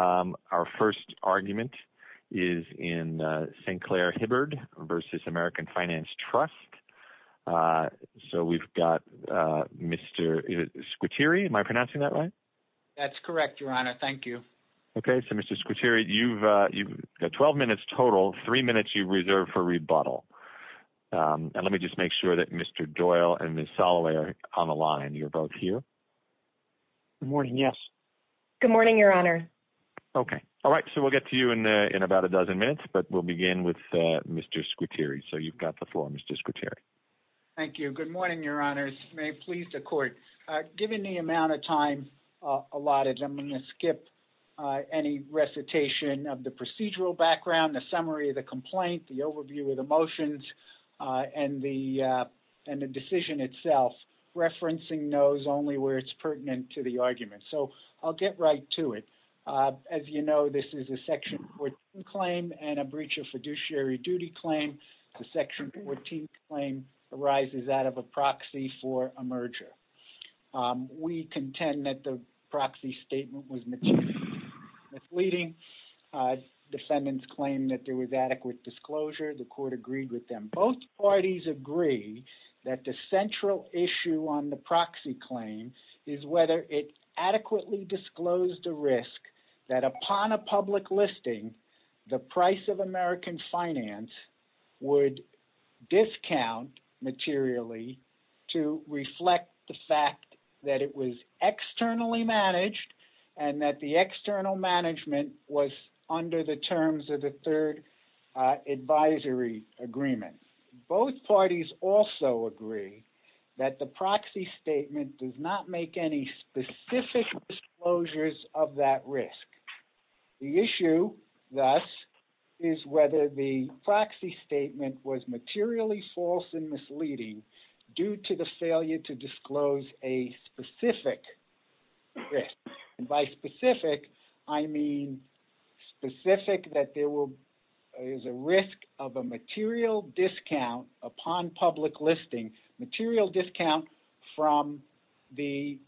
Our first argument is in St. Clair-Hibbard v. American Finance Trust. So we've got Mr. Squitieri. Am I pronouncing that right? That's correct, Your Honor. Thank you. Okay. So, Mr. Squitieri, you've got 12 minutes total, three minutes you reserve for rebuttal. And let me just make sure that Mr. Doyle and Ms. Soloway are on the line. You're both here. Good morning. Yes. Good morning, Your Honor. Okay. All right. So we'll get to you in about a dozen minutes, but we'll begin with Mr. Squitieri. So you've got the floor, Mr. Squitieri. Thank you. Good morning, Your Honors. May it please the Court. Given the amount of time allotted, I'm going to skip any recitation of the procedural background, the summary of the complaint, the overview of the motions, and the decision itself. Referencing knows only where it's pertinent to the argument. So I'll get right to it. As you know, this is a Section 14 claim and a breach of fiduciary duty claim. The Section 14 claim arises out of a proxy for a merger. We contend that the proxy statement was materially misleading. Defendants claimed that there was adequate disclosure. The Court agreed with them. Both parties agree that the central issue on the proxy claim is whether it disclosed a risk that upon a public listing, the price of American finance would discount materially to reflect the fact that it was externally managed and that the external management was under the terms of the Third Advisory Agreement. Both parties also agree that the disclosures of that risk. The issue, thus, is whether the proxy statement was materially false and misleading due to the failure to disclose a specific risk. And by specific, I mean specific that there is a risk of a material discount upon public listing, material discount from the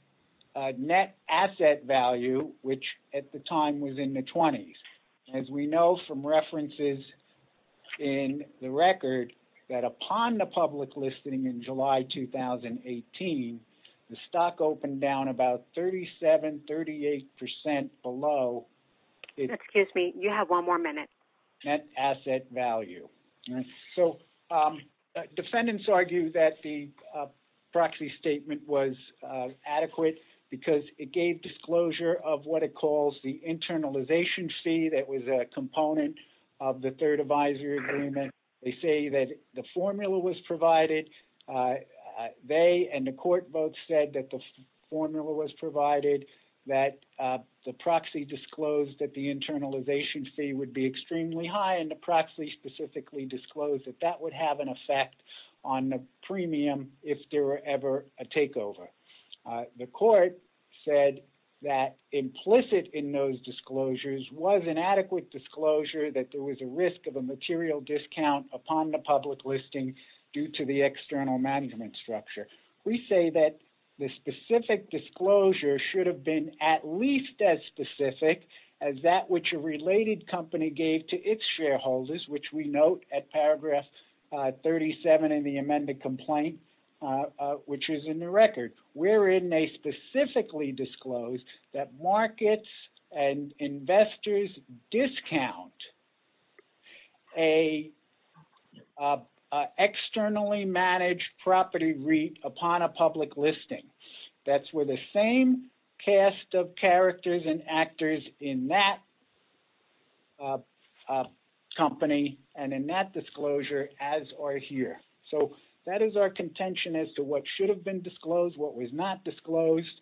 net asset value, which at the time was in the 20s. As we know from references in the record, that upon the public listing in July 2018, the stock opened down about 37, 38 percent below... Excuse me. You have one more minute. ...net asset value. So defendants argue that the proxy statement was adequate because it gave disclosure of what it calls the internalization fee that was a component of the Third Advisory Agreement. They say that the formula was provided. They and the Court both said that the formula was high and the proxy specifically disclosed that that would have an effect on the premium if there were ever a takeover. The Court said that implicit in those disclosures was inadequate disclosure that there was a risk of a material discount upon the public listing due to the external management structure. We say that the specific disclosure should have been at least as specific as that which a related company gave to its shareholders, which we note at paragraph 37 in the amended complaint, which is in the record, wherein they specifically disclosed that markets and investors discount an externally managed property REIT upon a public listing. That's where the same cast of characters and actors in that company and in that disclosure as are here. So that is our contention as to what should have been disclosed, what was not disclosed.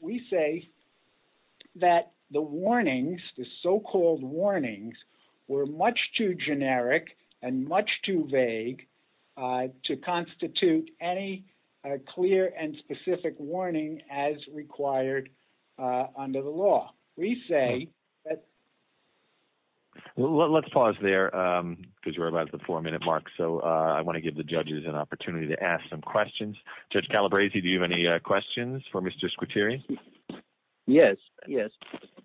We say that the warnings, the so-called warnings, were much too generic and much too vague to constitute any clear and specific warning as required under the law. We say that... Let's pause there because we're about at the four-minute mark, so I want to give the judges an opportunity to ask some questions. Judge Calabresi, do you have any questions for Mr. Squitieri? Yes.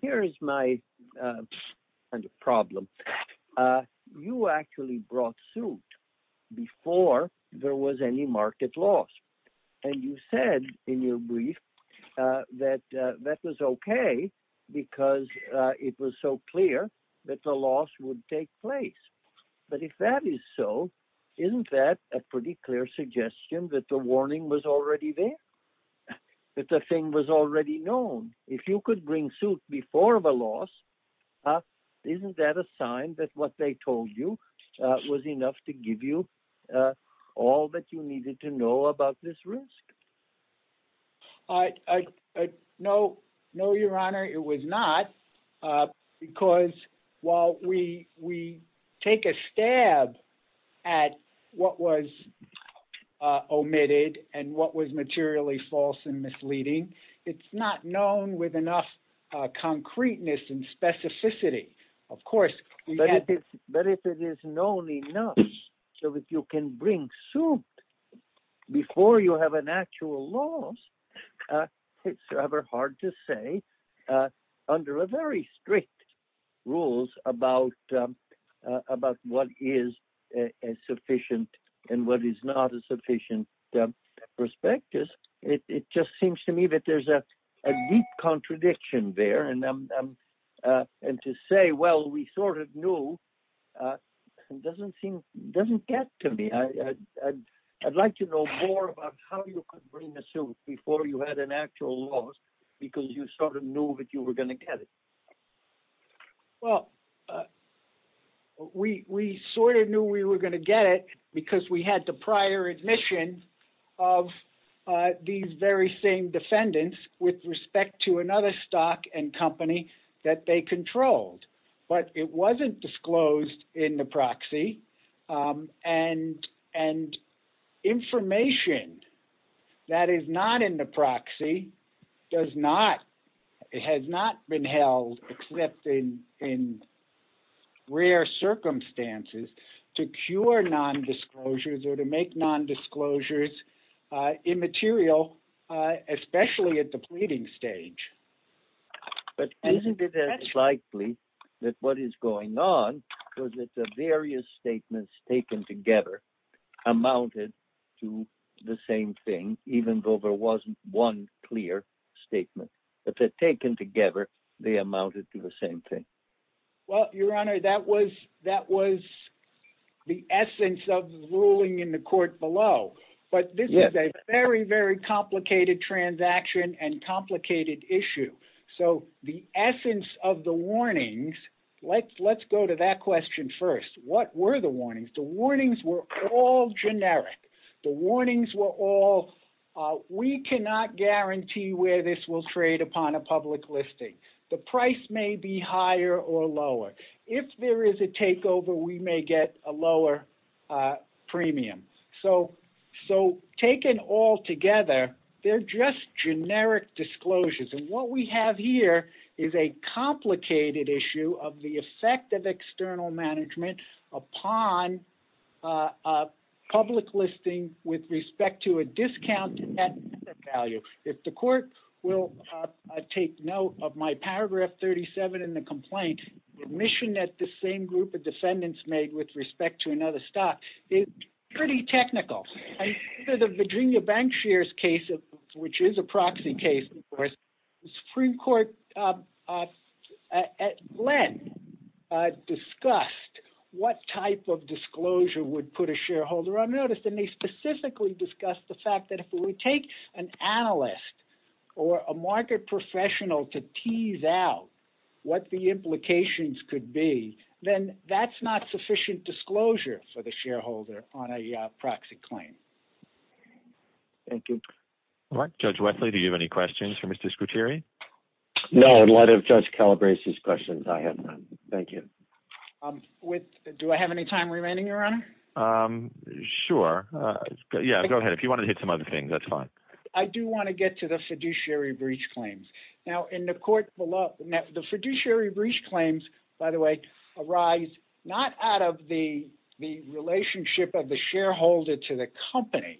Here is my problem. You actually brought suit before there was any market loss, and you said in your brief that that was okay because it was so clear that the loss would take place. But if that is so, isn't that a pretty clear suggestion that the warning was already there, that the thing was already known? If you could bring suit before the loss, isn't that a sign that what they told you was enough to give you all that you needed to know about this risk? No, Your Honor, it was not, because while we take a stab at what was omitted and what was materially false and misleading, it's not known with enough concreteness and specificity. Of course, before you have an actual loss, it's rather hard to say under very strict rules about what is a sufficient and what is not a sufficient prospectus. It just seems to me that there's a deep contradiction there, and to say, well, we sort of knew doesn't get to me. I'd like to know more about how you could bring the suit before you had an actual loss because you sort of knew that you were going to get it. Well, we sort of knew we were going to get it because we had the prior admission of these very same defendants with respect to another stock and company that they controlled, but it wasn't disclosed in the proxy, and information that is not in the proxy has not been held except in rare circumstances to cure nondisclosures or to make nondisclosures immaterial, especially at the pleading stage. But isn't it as likely that what is going on was that the various statements taken together amounted to the same thing, even though there wasn't one clear statement, that they're taken together, they amounted to the same thing? Well, Your Honor, that was the essence of the ruling in the court below, but this is a very, very complicated transaction and complicated issue. So the essence of the warnings, let's go to that question first. What were the warnings? The warnings were all generic. The warnings were all, we cannot guarantee where this will trade upon a public listing. The price may be higher or lower. If there is a takeover, we may get a lower premium. So taken all together, they're just generic disclosures. And what we have here is a complicated issue of the effect of external management upon a public listing with respect to a discounted net value. If the court will take note of my paragraph 37 in the complaint, admission that the same group of defendants made with respect to another stock is pretty technical. And the Virginia Bank shares case, which is a proxy case, of course, the Supreme Court at Glenn discussed what type of disclosure would put a shareholder on notice. And they specifically discussed the fact that if we take an analyst or a market professional to tease out what the implications could be, then that's not sufficient disclosure for the shareholder on a proxy claim. Thank you. Judge Wesley, do you have any questions for Mr. Scruteri? No, in light of Judge Calabrese's questions, I have none. Thank you. Do I have any time remaining, Your Honor? Sure. Yeah, go ahead. If you want to hit some other things, that's fine. I do want to get to the fiduciary breach claims. Now, in the court below, the fiduciary breach claims, by the way, arise not out of the relationship of the shareholder to the company,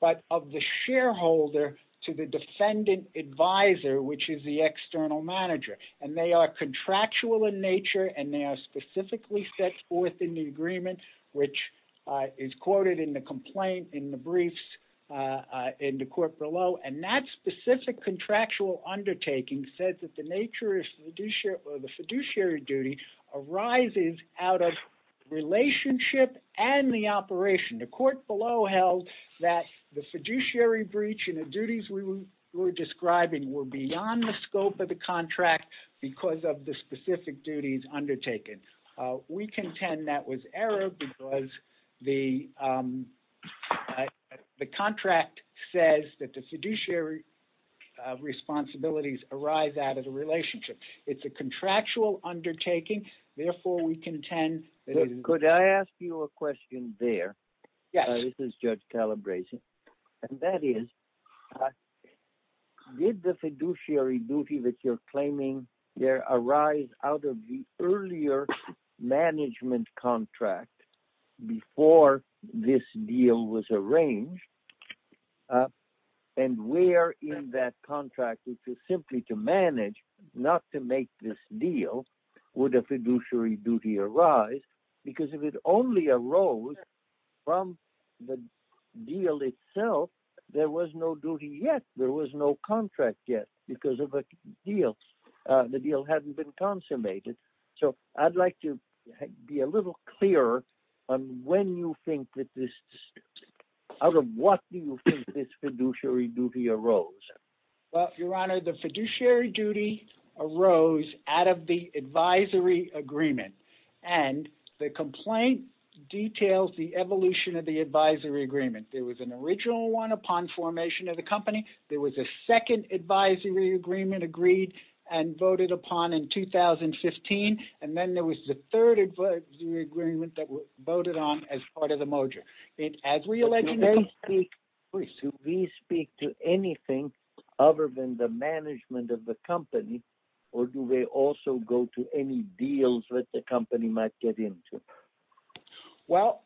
but of the shareholder to the defendant advisor, which is the external manager. And they are contractual in nature, and they are specifically set forth in the agreement, which is quoted in the complaint in the briefs in the court below. And that specific contractual undertaking says that the nature of the fiduciary duty arises out of relationship and the operation. The court below held that the fiduciary breach and the duties we were describing were beyond the scope of the contract because of the specific duties undertaken. We contend that was error because the contract says that the fiduciary responsibilities arise out of the relationship. It's a contractual undertaking. Therefore, we contend that it is... Could I ask you a question there? Yes. This is Judge Calabrese. And that is, did the fiduciary duty that you're claiming there arise out of the earlier management contract before this deal was arranged? And where in that contract, which is simply to manage, not to make this deal, would a fiduciary duty arise? Because if it only arose from the deal itself, there was no duty yet. There was no contract yet because of a deal. The deal hadn't been consummated. So I'd like to be a little clearer on when you think that this... Out of what do you think this fiduciary duty arose? Well, Your Honor, the fiduciary duty arose out of the advisory agreement. And the complaint details the evolution of the advisory agreement. There was an original one upon formation of the company. There was a second advisory agreement agreed and voted upon in 2015. And then there was the third advisory agreement that was voted on as part of the mojo. As we allege... Do they speak... Please. Do they speak to anything other than the management of the company? Or do they also go to any deals that the company might get into? Well,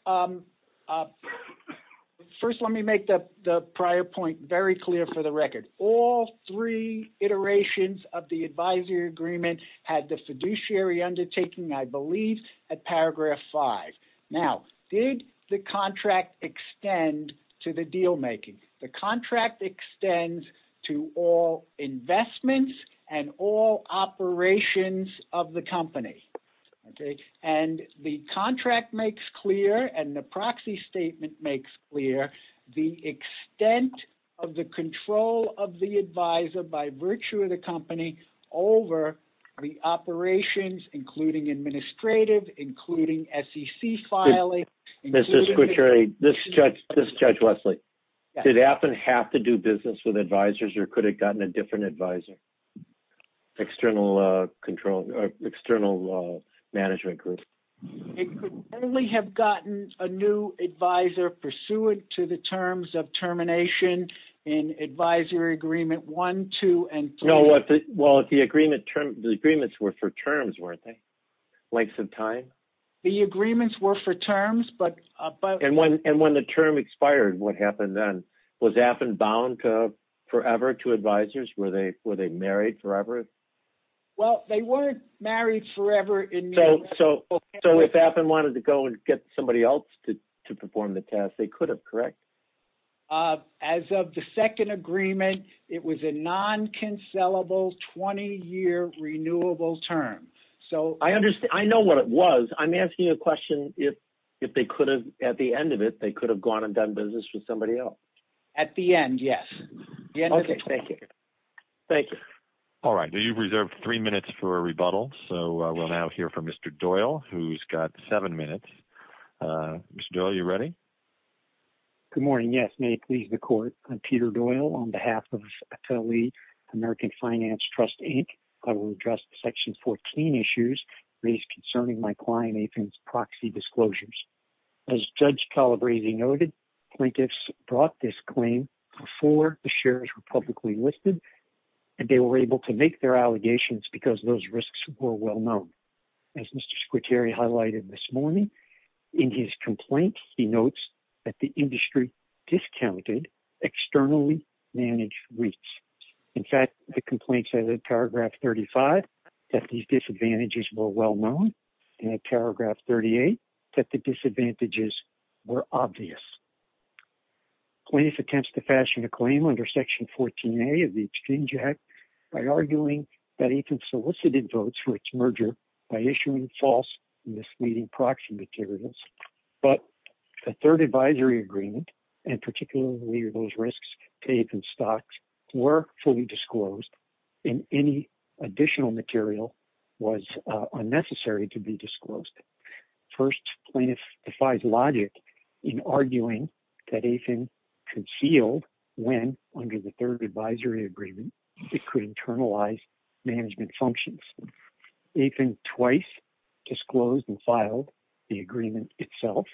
first, let me make the prior point very clear for the record. All three iterations of the advisory agreement had the fiduciary undertaking, I believe, at paragraph five. Now, did the contract extend to the dealmaking? The contract extends to all investments and all operations of the company. Okay. And the contract makes clear, and the proxy statement makes clear, the extent of the control of the advisor by virtue of the company over the operations, including administrative, including SEC filing... Mr. Squitieri, this Judge Wesley, did Appen have to do business with advisors or could have gotten a different advisor? External control... External management group. It could only have gotten a new advisor pursuant to the terms of termination in advisory agreement one, two, and three. No, well, the agreements were for terms, weren't they? Lengths of time? The agreements were for terms, but... And when the term expired, what happened then? Was Appen bound forever to advisors? Were they married forever? Well, they weren't married forever. So if Appen wanted to go and get somebody else to perform the task, they could have, correct? As of the second agreement, it was a non-cancellable 20-year renewable term. So... I understand. I know what it was. I'm asking you a question if they could have, at the end of it, they could have gone and done business with somebody else. At the end, yes. Okay, thank you. Thank you. All right, you've reserved three minutes for a rebuttal. So we'll now hear from Mr. Doyle, who's got seven minutes. Mr. Doyle, are you ready? Good morning. Yes, may it please the court. I'm Peter Doyle on behalf of Appellee American Finance Trust, Inc. I will address the Section 14 issues raised concerning my client Nathan's proxy disclosures. As Judge Calabresi noted, plaintiffs brought this claim before the shares were publicly listed, and they were able to make their allegations because those risks were well known. As Mr. Squitieri highlighted this morning, in his complaint, he notes that the industry discounted externally managed REITs. In fact, the complaint said in paragraph 35 that these disadvantages were well known, and in paragraph 38 that the disadvantages were obvious. Plaintiff attempts to fashion a claim under Section 14a of the Exchange Act by arguing that Nathan solicited votes for its merger by issuing false misleading proxy materials. But the third advisory agreement, and particularly those risks to Nathan's stocks, were fully disclosed, and any additional material was unnecessary to be disclosed. First, plaintiff defies logic in arguing that Nathan concealed when, under the third advisory agreement, it could internalize management functions. Nathan twice disclosed and filed the agreement itself.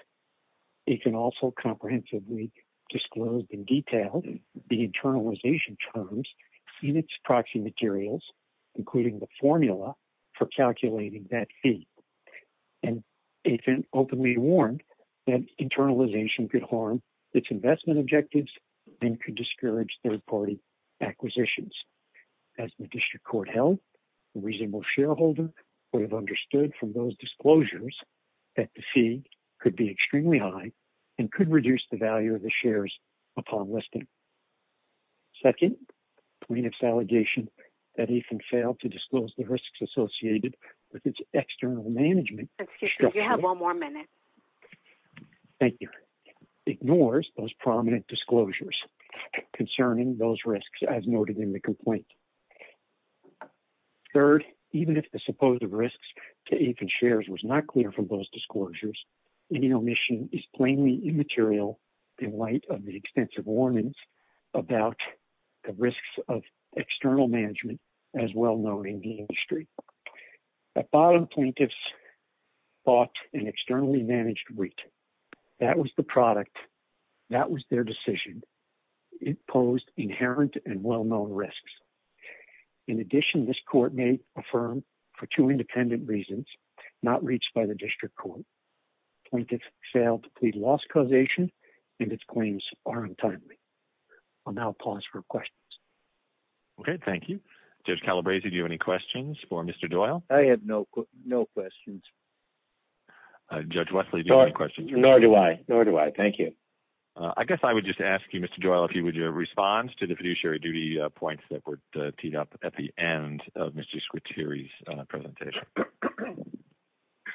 Nathan also comprehensively disclosed in detail the internalization terms in its proxy materials, including the formula for calculating that fee. And Nathan openly warned that internalization could harm its investment objectives and could discourage third-party acquisitions. As the district court held, a reasonable shareholder would have understood from those disclosures that the fee could be extremely high and could reduce the value of the shares upon listing. Second, plaintiff's allegation that Nathan failed to disclose the risks associated with external management. Excuse me. You have one more minute. Thank you. Ignores those prominent disclosures concerning those risks as noted in the complaint. Third, even if the supposed risks to Nathan's shares was not clear from those disclosures, any omission is plainly immaterial in light of the extensive warnings about the risks of external management as well known in the industry. At bottom, plaintiffs bought an externally managed wheat. That was the product. That was their decision. It posed inherent and well-known risks. In addition, this court may affirm for two independent reasons, not reached by the district court, plaintiffs failed to plead loss causation and its claims are untimely. I'll now pause for questions. Okay. Thank you. Judge Calabresi, do you have any questions for Mr. Doyle? I have no questions. Judge Wesley, do you have any questions? Nor do I. Nor do I. Thank you. I guess I would just ask you, Mr. Doyle, if you would respond to the fiduciary duty points that were teed up at the end of Mr. Skwitiri's presentation.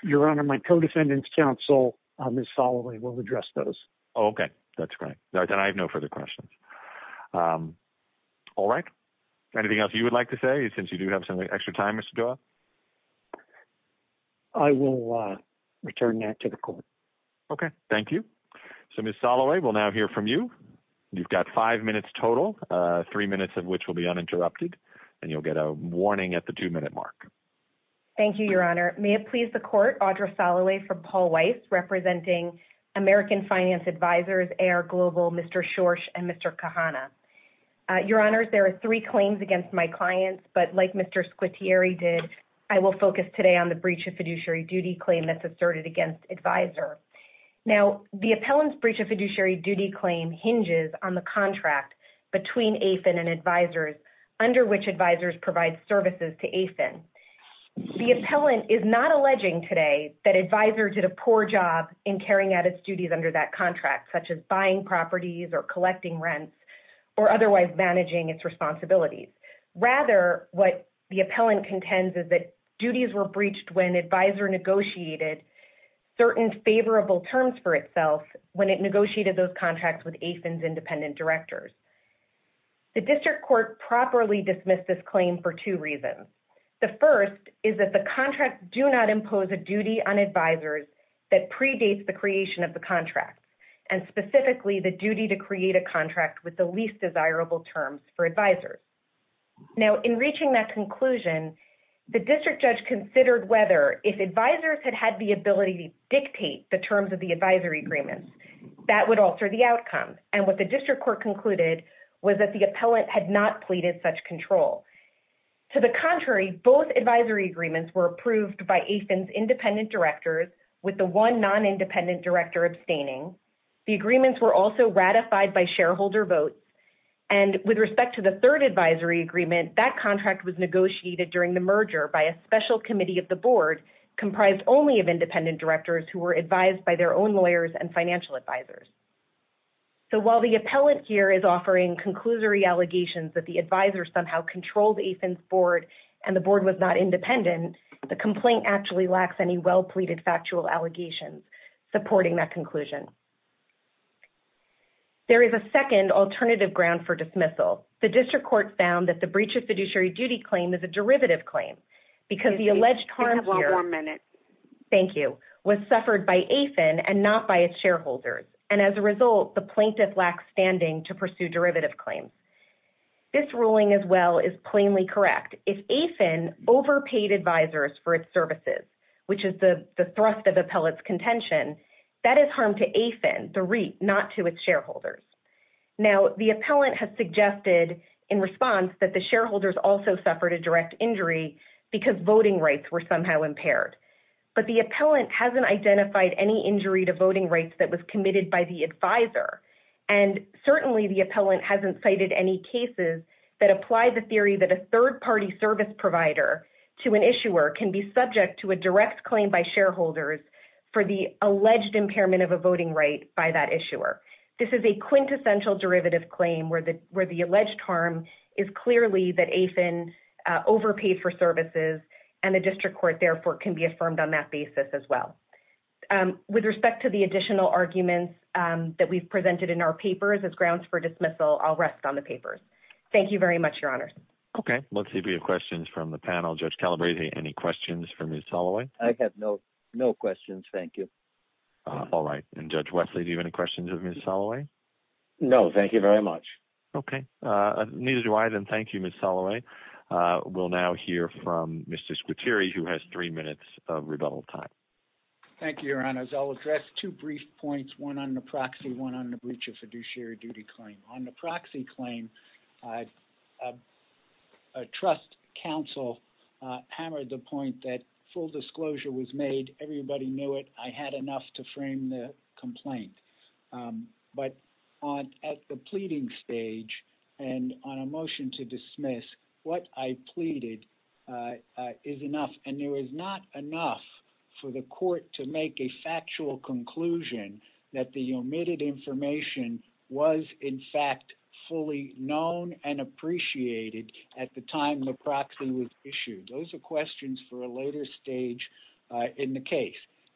Your Honor, my co-defendant's counsel, Ms. Soloway, will address those. Okay. That's great. I have no further questions. All right. Anything else you would like to say, since you do have some extra time, Mr. Doyle? I will return that to the court. Okay. Thank you. So, Ms. Soloway, we'll now hear from you. You've got five minutes total, three minutes of which will be uninterrupted, and you'll get a warning at the two-minute mark. Thank you, Your Honor. May it please the court, Audra Soloway from Paul Weiss, representing American Finance Advisors, AR Global, Mr. Schorsch, and Mr. Kahana. Your Honors, there are three claims against my clients, but like Mr. Skwitiri did, I will focus today on the breach of fiduciary duty claim that's asserted against Advisor. Now, the appellant's breach of fiduciary duty claim hinges on the contract between AFIN and Advisors, under which Advisors provide services to AFIN. The appellant is not alleging today that Advisor did a poor job in carrying out its or otherwise managing its responsibilities. Rather, what the appellant contends is that duties were breached when Advisor negotiated certain favorable terms for itself when it negotiated those contracts with AFIN's independent directors. The District Court properly dismissed this claim for two reasons. The first is that the contracts do not impose a duty on Advisors that predates the creation of the contract, and specifically the duty to create a contract with the least desirable terms for Advisors. Now, in reaching that conclusion, the District Judge considered whether, if Advisors had had the ability to dictate the terms of the Advisory Agreements, that would alter the outcome. And what the District Court concluded was that the appellant had not pleaded such control. To the contrary, both Advisory Agreements were approved by AFIN's independent directors with the one non-independent director abstaining. The agreements were also ratified by shareholder votes. And with respect to the third Advisory Agreement, that contract was negotiated during the merger by a special committee of the Board comprised only of independent directors who were advised by their own lawyers and financial advisors. So, while the appellant here is offering conclusory allegations that the Advisor somehow controlled AFIN's Board and the Board was not independent, the complaint actually lacks any well-pleaded factual allegations supporting that conclusion. There is a second alternative ground for dismissal. The District Court found that the breach of fiduciary duty claim is a derivative claim because the alleged harm here was suffered by AFIN and not by its shareholders. And as a result, the plaintiff lacks standing to pursue derivative claims. This ruling as well is plainly correct. If AFIN overpaid advisors for its services, which is the thrust of appellate's contention, that is harm to AFIN, the REIT, not to its shareholders. Now, the appellant has suggested in response that the shareholders also suffered a direct injury because voting rights were somehow impaired. But the appellant hasn't identified any injury to voting rights that was committed by the advisor. And certainly, the appellant hasn't cited any cases that apply the theory that a third party service provider to an issuer can be subject to a direct claim by shareholders for the alleged impairment of a voting right by that issuer. This is a quintessential derivative claim where the alleged harm is clearly that AFIN overpaid for services and the District Court, therefore, can be affirmed on that basis as well. With respect to the additional arguments that we've presented in our papers as grounds for dismissal, I'll rest on the papers. Thank you very much, Your Honors. Okay. Let's see if we have questions from the panel. Judge Calabresi, any questions for Ms. Soloway? I have no questions. Thank you. All right. And Judge Wesley, do you have any questions of Ms. Soloway? No, thank you very much. Okay. Neither do I. Then thank you, Ms. Soloway. We'll now hear from Mr. Squitieri, who has three minutes of rebuttal time. Thank you, Your Honors. I'll address two brief points, one on the proxy, one on the breach of fiduciary duty claim. On the proxy claim, a trust counsel hammered the point that full disclosure was made. Everybody knew it. I had enough to frame the complaint. But at the pleading stage and on a motion to dismiss, what I pleaded is enough. And there was not enough for the court to make a factual conclusion that the omitted information was, in fact, fully known and appreciated at the time the proxy was issued. Those are questions for a later stage in the case.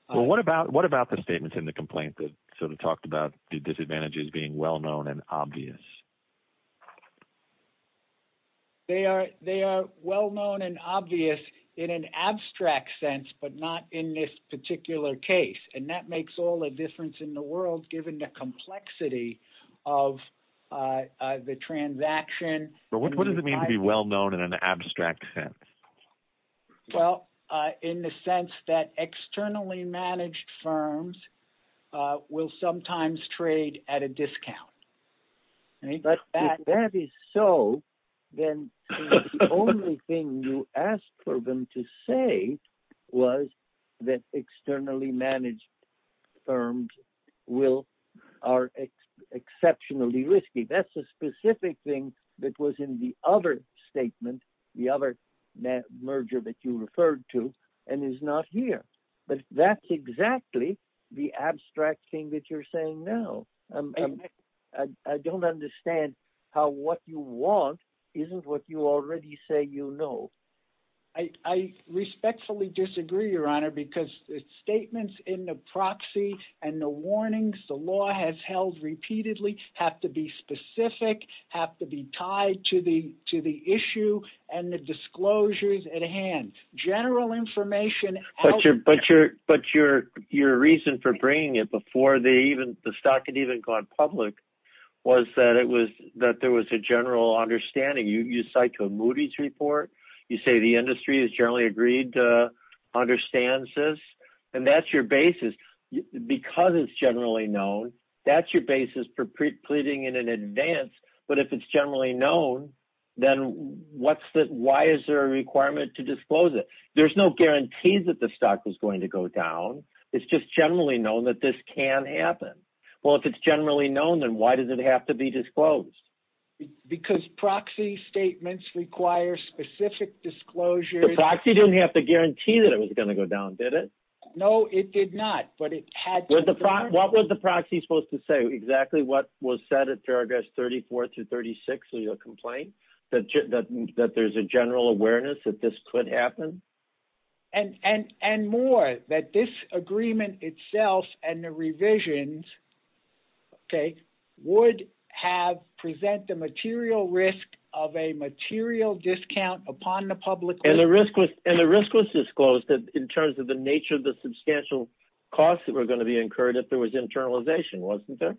Well, what about the statements in the complaint that sort of talked about the disadvantages being well-known and obvious? They are well-known and obvious in an abstract sense, but not in this particular case. And that makes all the difference in the world, given the complexity of the transaction. But what does it mean to be well-known in an abstract sense? Well, in the sense that externally managed firms will sometimes trade at a discount. And if that is so, then the only thing you asked for them to say was that externally managed firms are exceptionally risky. That's a specific thing that was in the other statement, the other merger that you referred to, and is not here. But that's exactly the abstract thing that you're saying now. I don't understand how what you want isn't what you already say you know. I respectfully disagree, Your Honor, because the statements in the proxy and the warnings the law has held repeatedly have to be specific, have to be tied to the issue, and the disclosures at hand. General information... But your reason for bringing it before the stock had even gone public was that there was a general understanding. You cite to a Moody's report. You say the industry has generally agreed to understand this. And that's your basis. Because it's generally known, that's your basis for pleading in advance. But if it's generally known, then why is there a requirement to disclose it? There's no guarantee that the stock was going to go down. It's just generally known that this can happen. Well, if it's generally known, then why does it have to be disclosed? Because proxy statements require specific disclosures. The proxy didn't have to guarantee that it was going to go down, did it? No, it did not. But it had to... What was the proxy supposed to say? Exactly what was said at paragraphs 34 through 36 of your complaint? That there's a general awareness that this could happen? And more, that this agreement itself and the revisions would present the material risk of a material discount upon the public... And the risk was disclosed in terms of the nature of the substantial costs that were going to be incurred if there was internalization, wasn't there?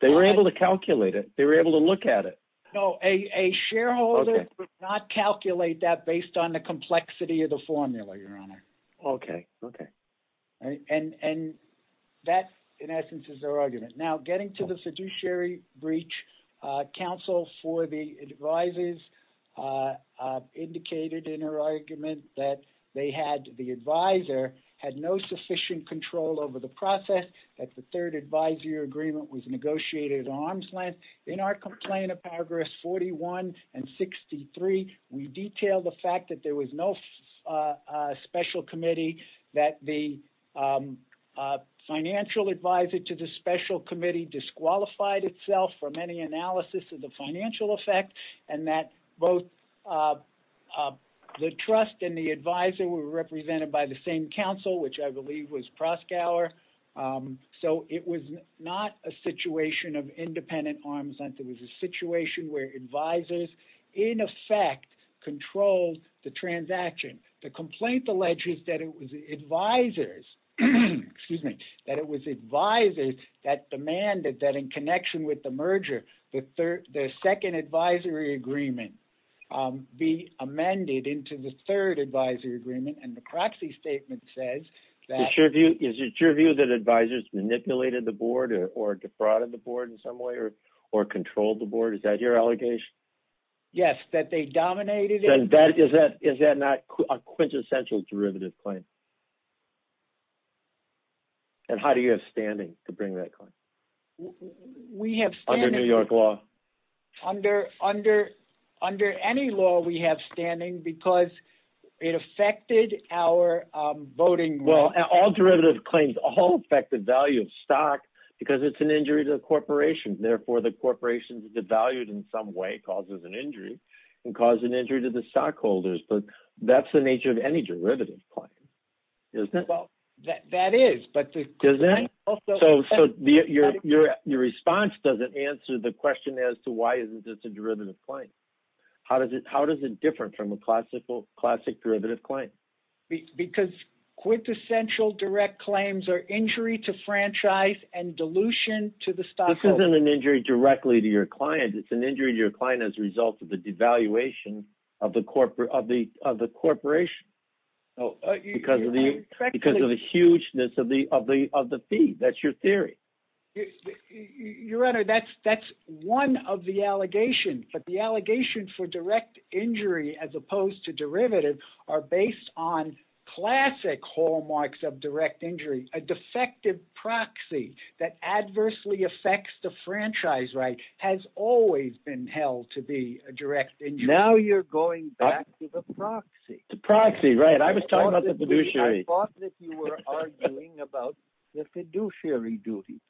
They were able to calculate it. They were able to look at it. No, a shareholder would not calculate that based on the complexity of the formula, Your Honor. Okay, okay. And that, in essence, is their argument. Now, getting to the fiduciary breach, counsel for the advisors indicated in her argument that the advisor had no sufficient control over the process, that the third advisory agreement was negotiated at arm's length. In our complaint of paragraphs 41 and 63, we detailed the fact that there was no special committee, that the financial advisor to the special committee disqualified itself from any analysis of the financial effect, and that both the trust and the advisor were represented by the same counsel, which I believe was Proskauer. So it was not a situation of independent arm's length. It was a situation where advisors, in effect, controlled the transaction. The complaint alleges that it was advisors, excuse me, that it was advisors that demanded that in connection with the merger, the second advisory agreement be amended into the third advisory agreement. And the proxy statement says that- Is it your view that advisors manipulated the board or defrauded the board in some way or controlled the board? Is that your allegation? Yes, that they dominated- Then is that not a quintessential derivative claim? And how do you have standing to bring that claim? We have standing- Under New York law? Under any law, we have standing because it affected our voting rights. Well, all derivative claims, all affect the value of stock because it's an injury to the corporation. Therefore, the corporation is devalued in some way, causes an injury, and cause an injury to the stockholders. But that's the nature of any derivative claim, isn't it? Well, that is, but the claim also- So your response doesn't answer the question as to why isn't this a derivative claim? How does it differ from a classic derivative claim? Because quintessential direct claims are injury to franchise and dilution to the stockholders. This isn't an injury directly to your client, it's an injury to your client as a result of the devaluation of the corporation because of the hugeness of the fee. That's your theory. Your Honor, that's one of the allegations. But the allegations for direct injury as opposed to derivative are based on classic hallmarks of direct injury. A defective proxy that adversely affects the franchise right has always been held to be a direct injury. Now you're going back to the proxy. The proxy, right. I was talking about the fiduciary. I thought that you were arguing about the fiduciary duty.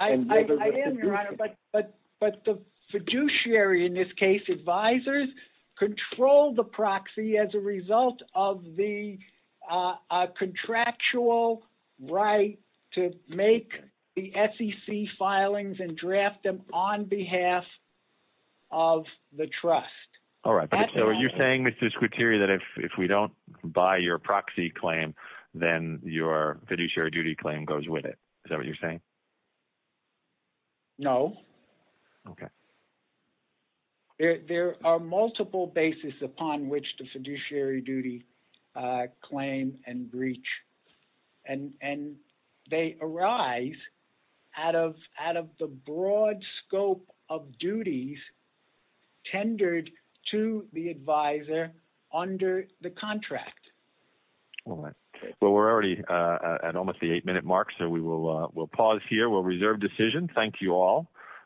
I am, Your Honor, but the fiduciary, in this case, advisors, control the proxy as a result of the contractual right to make the SEC filings and draft them on behalf of the trust. All right. So are you saying, Mr. Scruteri, that if we don't buy your proxy claim, then your fiduciary duty claim goes with it? Is that what you're saying? No. Okay. There are multiple bases upon which the fiduciary duty claim and breach. And they arise out of the broad scope of duties tendered to the advisor under the contract. Well, we're already at almost the eight-minute mark, so we will pause here. We'll reserve decision. Thank you all.